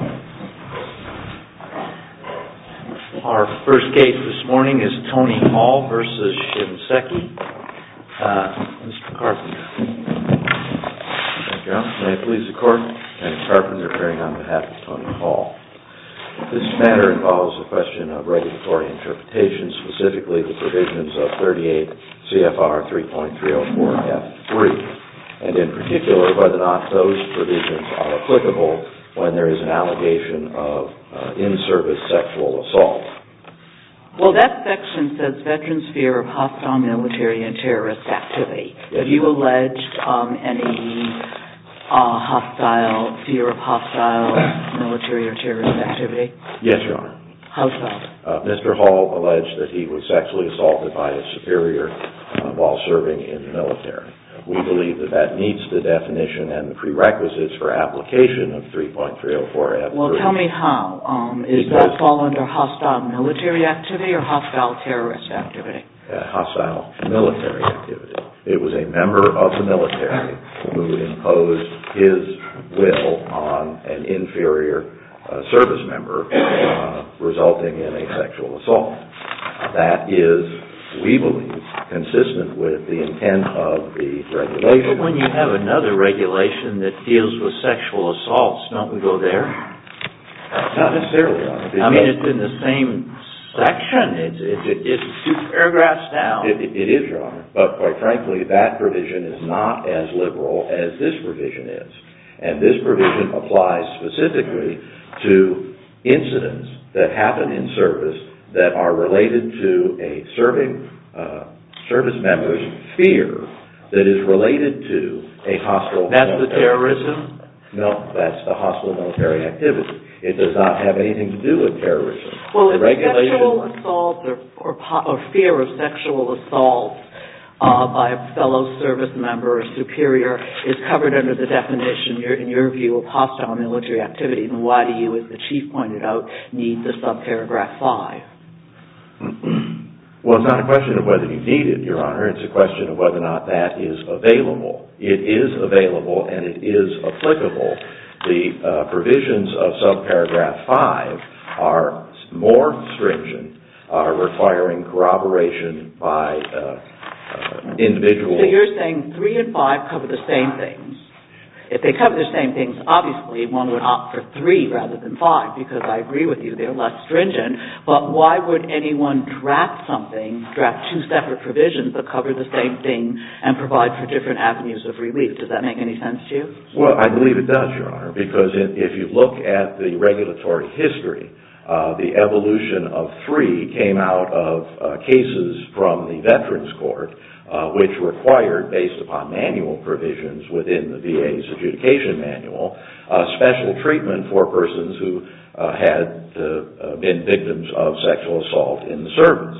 Our first case this morning is Tony Hall v. Shinseki. Mr. Carpenter, may I please the court? Mr. Carpenter, appearing on behalf of Tony Hall. This matter involves a question of regulatory interpretation, specifically the provisions of 38 CFR 3.304-F3, and in particular whether or not those provisions are applicable when there is an allegation of in-service sexual assault. Well, that section says veterans fear of hostile military and terrorist activity. Have you alleged any fear of hostile military or terrorist activity? Yes, Your Honor. How so? Mr. Hall alleged that he was sexually assaulted by his superior while serving in the military. We believe that that meets the definition and the prerequisites for application of 3.304-F3. Well, tell me how. Does that fall under hostile military activity or hostile terrorist activity? Hostile military activity. It was a member of the military who imposed his will on an inferior service member, resulting in a sexual assault. That is, we believe, consistent with the intent of the regulation. But when you have another regulation that deals with sexual assaults, don't we go there? Not necessarily, Your Honor. I mean, it's in the same section. It's two paragraphs down. It is, Your Honor. But, quite frankly, that provision is not as liberal as this provision is. And this provision applies specifically to incidents that happen in service that are related to a hostile military activity. That's the terrorism? No, that's the hostile military activity. It does not have anything to do with terrorism. Well, if a sexual assault or fear of sexual assault by a fellow service member or superior is covered under the definition, in your view, of hostile military activity, then why do you, as the Chief pointed out, need the subparagraph 5? Well, it's not a question of whether you need it, Your Honor. It's a question of whether or not that is available. It is available and it is applicable. The provisions of subparagraph 5 are more stringent, are requiring corroboration by individuals. So you're saying 3 and 5 cover the same things. If they cover the same things, obviously, one would opt for 3 rather than 5 because, I agree with you, they're less stringent. But why would anyone draft something, draft two separate provisions that cover the same thing and provide for different avenues of relief? Does that make any sense to you? Well, I believe it does, Your Honor, because if you look at the regulatory history, the evolution of 3 came out of cases from the Veterans Court which required, based upon manual provisions within the VA's adjudication manual, special treatment for persons who had been victims of sexual assault in the service.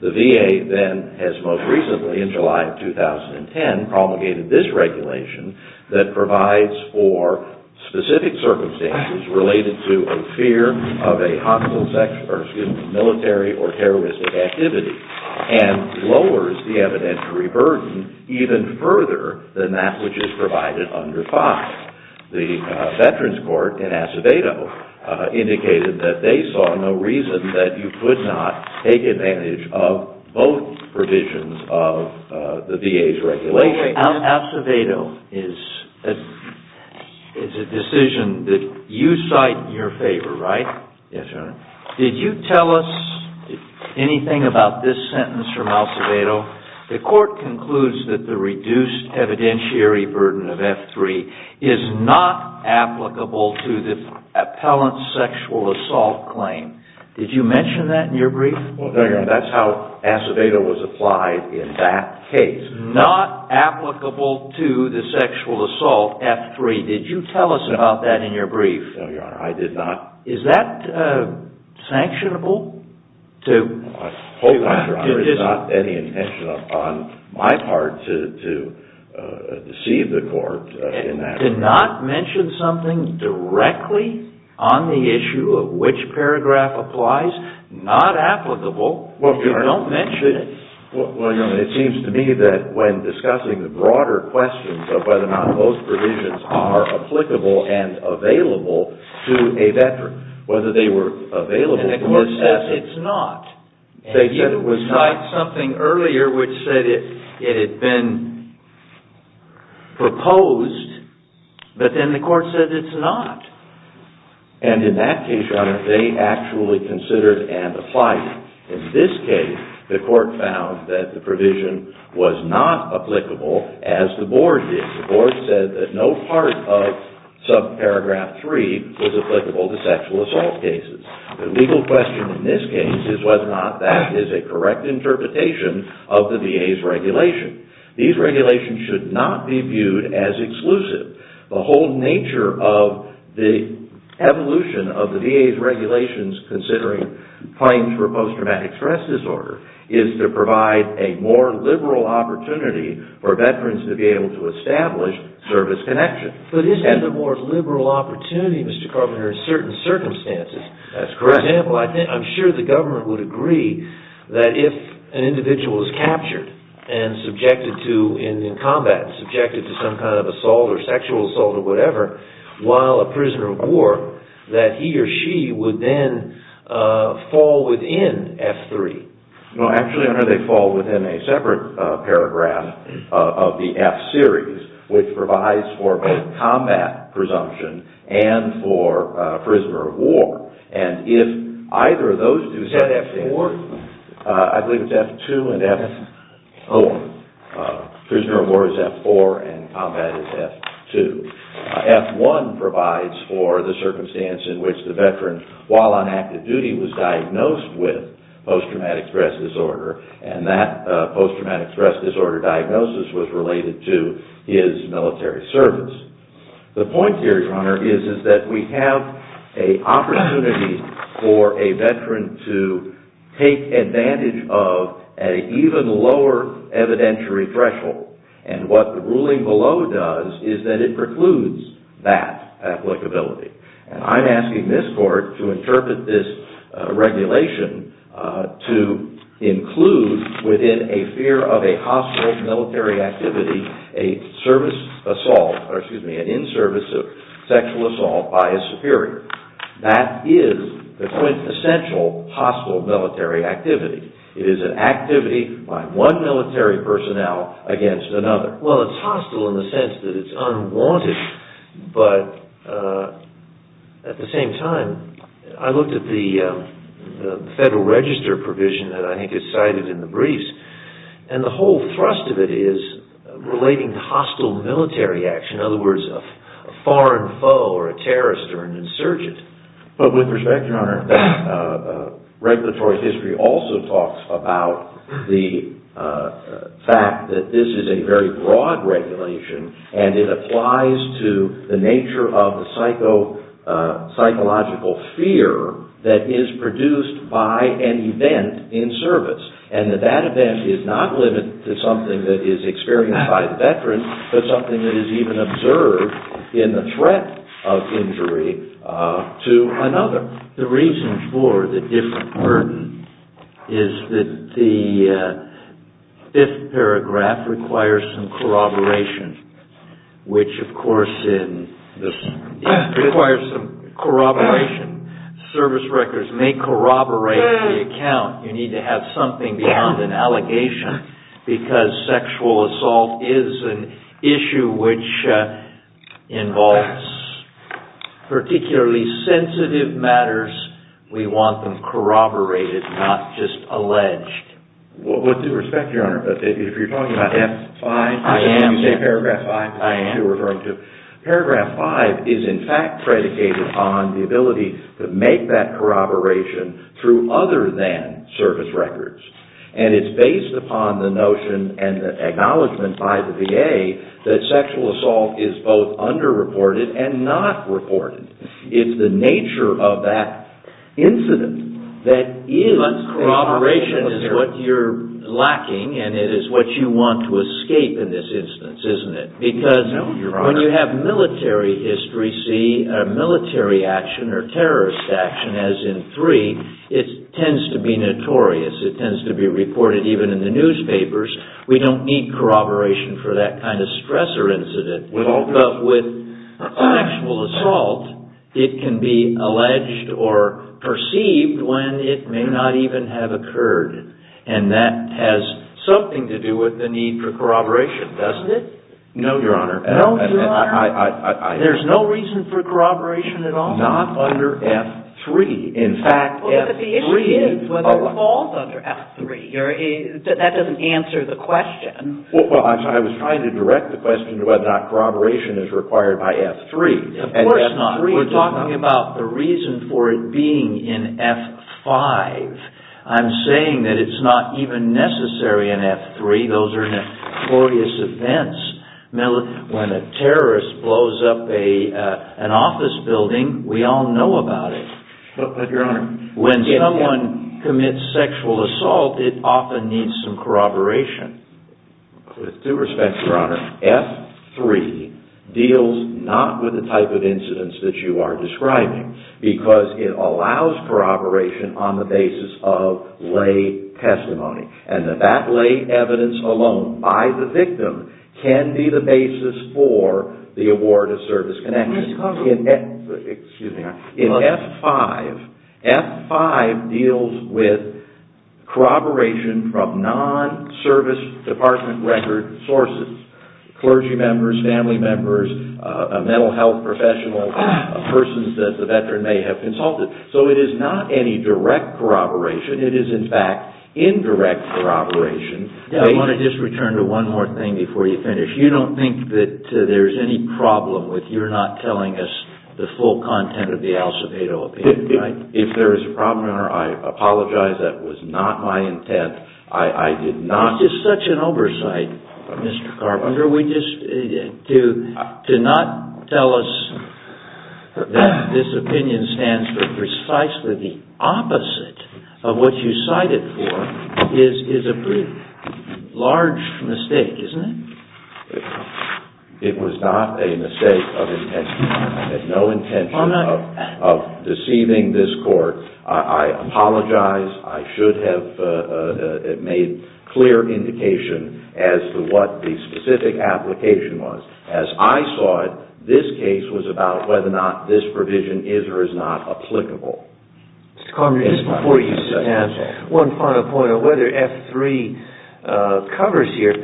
The VA, then, has most recently, in July of 2010, promulgated this regulation that provides for specific circumstances related to a fear of a hostile military or terroristic activity and lowers the evidentiary burden even further than that which is provided under 5. The Veterans Court in Acevedo indicated that they saw no reason that you could not take advantage of both provisions of the VA's regulation. Well, Acevedo is a decision that you cite in your favor, right? Yes, Your Honor. Did you tell us anything about this sentence from Acevedo? The court concludes that the reduced evidentiary burden of F3 is not applicable to the appellant's sexual assault claim. Did you mention that in your brief? No, Your Honor. That's how Acevedo was applied in that case. Not applicable to the sexual assault F3. Did you tell us about that in your brief? No, Your Honor. I did not. Is that sanctionable? I hope, Your Honor, it's not any intention on my part to deceive the court in that regard. To not mention something directly on the issue of which paragraph applies? Not applicable if you don't mention it. Well, Your Honor, it seems to me that when discussing the broader questions of whether or not both provisions are applicable and available to a veteran, whether they were available or not. And the court says it's not. They said it was not. And you cite something earlier which said it had been proposed, but then the court said it's not. And in that case, Your Honor, they actually considered and applied it. In this case, the court said that no part of subparagraph 3 was applicable to sexual assault cases. The legal question in this case is whether or not that is a correct interpretation of the VA's regulation. These regulations should not be viewed as exclusive. The whole nature of the evolution of the VA's regulations considering claims for post-traumatic stress disorder is to provide a more liberal opportunity for veterans to be able to establish service connection. But isn't that the more liberal opportunity, Mr. Carpenter, in certain circumstances? That's correct. For example, I'm sure the government would agree that if an individual is captured and subjected to, in combat, subjected to some kind of assault or sexual assault or whatever, while a prisoner of war, that he or she would then fall within F3. No, actually, Your Honor, they fall within a separate paragraph of the F series, which provides for both combat presumption and for prisoner of war. And if either of those two... Is that F4? I believe it's F2 and F4. Prisoner of war is F4 and combat is F2. F1 provides for the circumstance in which the veteran, while on active duty, was diagnosed with post-traumatic stress disorder and that post-traumatic stress disorder diagnosis was related to his military service. The point here, Your Honor, is that we have an opportunity for a veteran to take advantage of an even lower evidentiary threshold. And what the ruling below does is that it precludes that applicability. And I'm asking this Court to interpret this regulation to include within a fear of a hostile military activity a service assault or, excuse me, an in-service sexual assault by a superior. That is the quintessential hostile military activity. It is an activity by one military personnel against another. Well, it's hostile in the sense that it's unwanted, but at the same time, I looked at the Federal Register provision that I think is cited in the briefs and the whole thrust of it is relating to hostile military action. In other words, a foreign foe or a terrorist or an insurgent. But with respect, Your Honor, regulatory history also talks about the fact that this is a very broad regulation and it applies to the nature of the psychological fear that is produced by an event in service. And that that event is not limited to something that is experienced by the veteran, but something that is even observed in the threat of injury to another. The reason for the different burden is that the fifth paragraph requires some corroboration, which, of course, requires some corroboration. Service records may corroborate the account. You need to have something beyond an allegation because sexual assault is an issue which involves particularly sensitive matters. We want them corroborated, not just alleged. With respect, Your Honor, if you're talking about paragraph five, paragraph five is in fact predicated on the ability to make that corroboration through other than service records. And it's based upon the notion and the acknowledgement by the VA that sexual assault is both underreported and not reported. It's the nature of that incident that is corroboration. But corroboration is what you're lacking and it is what you want to escape in this instance, isn't it? No, Your Honor. When you have military history, see military action or terrorist action as in three, it tends to be notorious. It tends to be reported even in the newspapers. We don't need corroboration for that kind of stressor incident. But with sexual assault, it can be alleged or perceived when it may not even have occurred. And that has something to do with the need for corroboration, doesn't it? No, Your Honor. No, Your Honor. There's no reason for corroboration at all? Not under F-3. In fact, F-3... But the issue is whether it falls under F-3. That doesn't answer the question. Well, I was trying to direct the question to whether or not corroboration is required by F-3. Of course not. We're talking about the reason for it being in F-5. I'm saying that it's not even necessary in F-3. Those are notorious events. When a terrorist blows up an office building, we all know about it. But, Your Honor... When someone commits sexual assault, it often needs some corroboration. With due respect, Your Honor, F-3 deals not with the type of incidents that you are describing because it allows corroboration on the basis of lay testimony. And that lay evidence alone by the victim can be the basis for the award of service connection. Excuse me, Your Honor. In F-5, F-5 deals with corroboration from non-Service Department record sources. Clergy members, family members, a mental health professional, a person that the veteran may have consulted. So it is not any direct corroboration. But it is, in fact, indirect corroboration. I want to just return to one more thing before you finish. You don't think that there's any problem with your not telling us the full content of the Alcibado opinion, right? If there is a problem, Your Honor, I apologize. That was not my intent. I did not... It's just such an oversight, Mr. Carpenter. To not tell us that this opinion stands for precisely the opposite of what you cited for is a pretty large mistake, isn't it? It was not a mistake of intent. I had no intention of deceiving this Court. I apologize. I should have made clear indication as to what the specific application was. As I saw it, this case was about whether or not this provision is or is not applicable. Mr. Carpenter, just before you stand, one final point on whether F-3 covers here.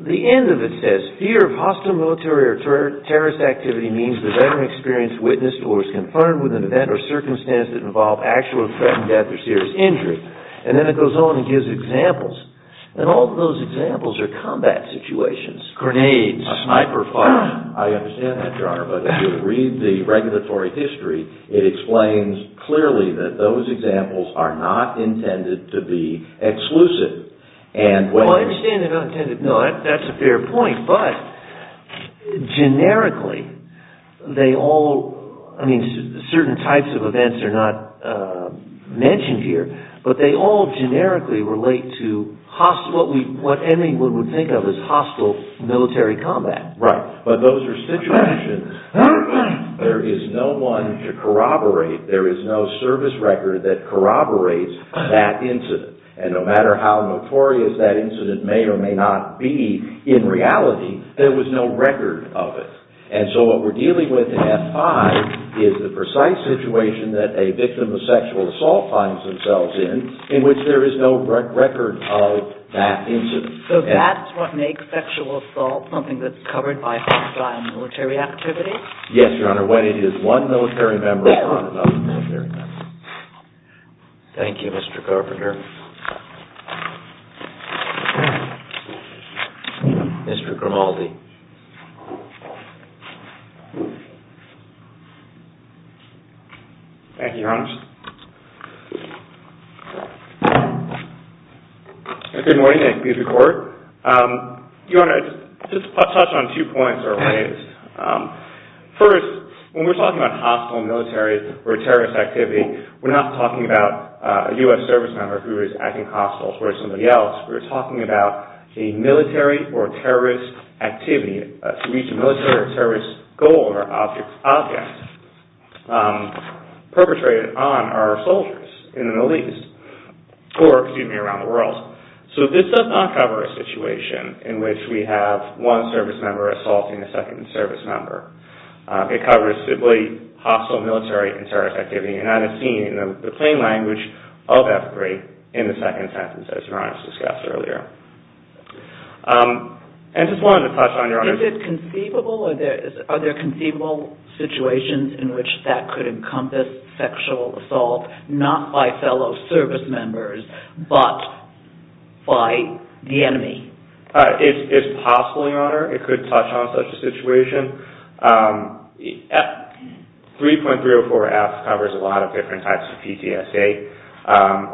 The end of it says, Fear of hostile military or terrorist activity means the veteran experienced, witnessed, or was confirmed with an event or circumstance that involved actual or threatened death or serious injury. And then it goes on and gives examples. And all of those examples are combat situations. Grenades. A sniper fire. I understand that, Your Honor, but if you read the regulatory history, it explains clearly that those examples are not intended to be exclusive. Well, I understand they're not intended. No, that's a fair point. But, generically, certain types of events are not mentioned here, but they all generically relate to what anyone would think of as hostile military combat. Right. But those are situations where there is no one to corroborate. There is no service record that corroborates that incident. And no matter how notorious that incident may or may not be in reality, there was no record of it. And so what we're dealing with in F-5 is the precise situation that a victim of sexual assault finds themselves in, in which there is no record of that incident. So that's what makes sexual assault something that's covered by hostile military activity? Yes, Your Honor. When it is one military member, it's not another military member. Thank you, Mr. Carpenter. Mr. Grimaldi. Thank you, Your Honor. Good morning. Thank you, Your Court. Your Honor, I'd just like to touch on two points that were raised. First, when we're talking about hostile military or terrorist activity, we're not talking about a U.S. service member who is acting hostile towards somebody else. We're talking about a military or terrorist activity to reach a military or terrorist goal or object, perpetrated on our soldiers in the Middle East, or, excuse me, around the world. So this does not cover a situation in which we have one service member assaulting a second service member. It covers simply hostile military and terrorist activity. And I have seen the plain language of effigy in the second sentence, as Your Honor has discussed earlier. And I just wanted to touch on, Your Honor... Is it conceivable or are there conceivable situations in which that could encompass sexual assault, not by fellow service members, but by the enemy? It's possible, Your Honor. It could touch on such a situation. 3.304F covers a lot of different types of PTSD.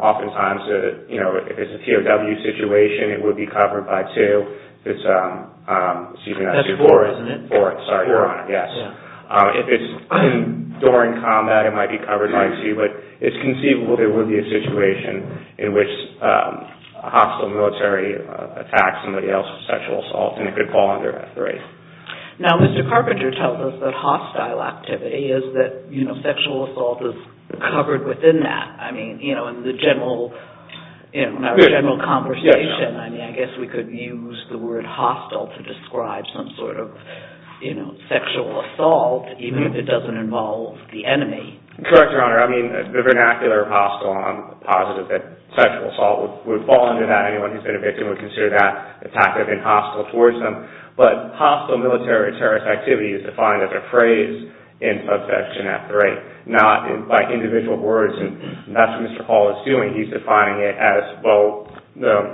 Oftentimes, you know, if it's a POW situation, it would be covered by 2. If it's... That's 4, isn't it? 4. Sorry, Your Honor. Yes. If it's during combat, it might be covered by 2. But it's conceivable there would be a situation in which a hostile military attacks somebody else for sexual assault, and it could fall under F3. Now, Mr. Carpenter tells us that hostile activity is that, you know, sexual assault is covered within that. I mean, you know, in the general... In our general conversation, I mean, I guess we could use the word hostile to describe some sort of, you know, sexual assault, even if it doesn't involve the enemy. Correct, Your Honor. I mean, the vernacular of hostile, I'm positive that sexual assault would fall under that. Anyone who's been a victim would consider that attactive and hostile towards them. But hostile military or terrorist activity is defined as a phrase in subsection F3, not by individual words. And that's what Mr. Paul is doing. He's defining it as, well,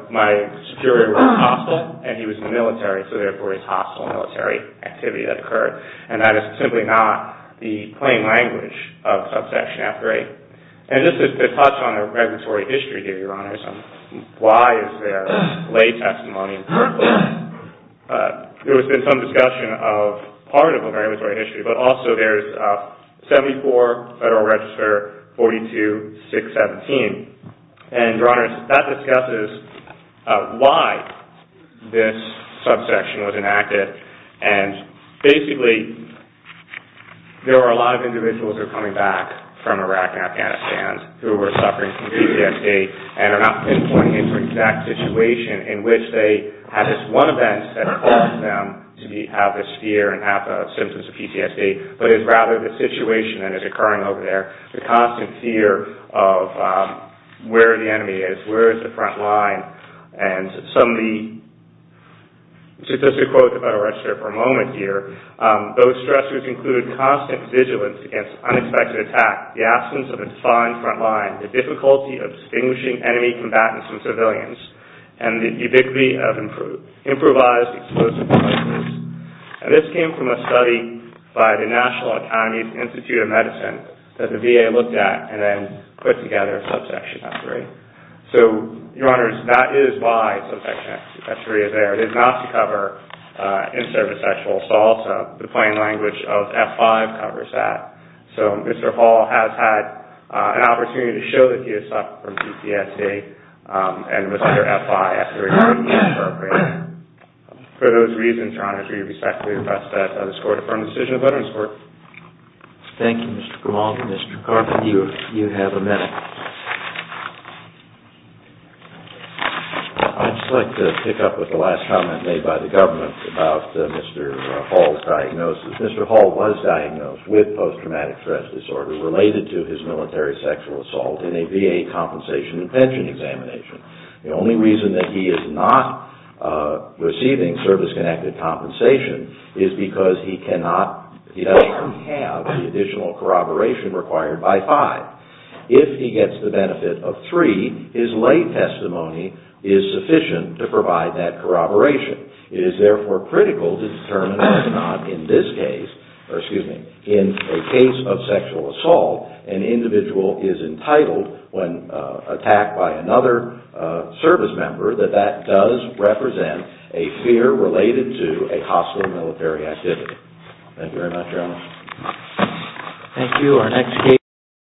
my superior was hostile, and he was in the military, so therefore it's hostile military activity that occurred. And that is simply not the plain language of subsection F3. And just to touch on the regulatory history here, Your Honors, why is there lay testimony? There has been some discussion of part of a regulatory history, but also there's 74 Federal Register 42617. And, Your Honors, that discusses why this subsection was enacted. And basically, there are a lot of individuals who are coming back from Iraq and Afghanistan who are suffering from PTSD and are not pinpointing an exact situation in which they had this one event that caused them to have this fear and have the symptoms of PTSD, but it's rather the situation that is occurring over there, the constant fear of where the enemy is, where is the front line. And some of the, just to quote the Federal Register for a moment here, those stressors include constant vigilance against unexpected attack, the absence of a defined front line, the difficulty of distinguishing enemy combatants from civilians, and the ubiquity of improvised explosive devices. And this came from a study by the National Academy Institute of Medicine that the VA looked at and then put together a subsection F3. So, Your Honors, that is why subsection F3 is there. It is not to cover in-service sexual assault. The plain language of F5 covers that. So, Mr. Hall has had an opportunity to show that he has suffered from PTSD, and Mr. F5 has to report him for appraising. For those reasons, Your Honors, we respectfully request that this Court affirm the decision of Veterans Court. Thank you, Mr. Grimaldi. Mr. Carpenter, you have a minute. I'd just like to pick up with the last comment made by the government about Mr. Hall's diagnosis. Mr. Hall was diagnosed with post-traumatic stress disorder related to his military sexual assault in a VA compensation and pension examination. The only reason that he is not receiving service-connected compensation is because he does not have the additional corroboration required by FIVE. If he gets the benefit of THREE, his lay testimony is sufficient to provide that corroboration. It is therefore critical to determine whether or not in this case, or excuse me, in a case of sexual assault, an individual is entitled, when attacked by another service member, that that does represent a fear related to a hostile military activity. Thank you very much, Your Honors. Thank you.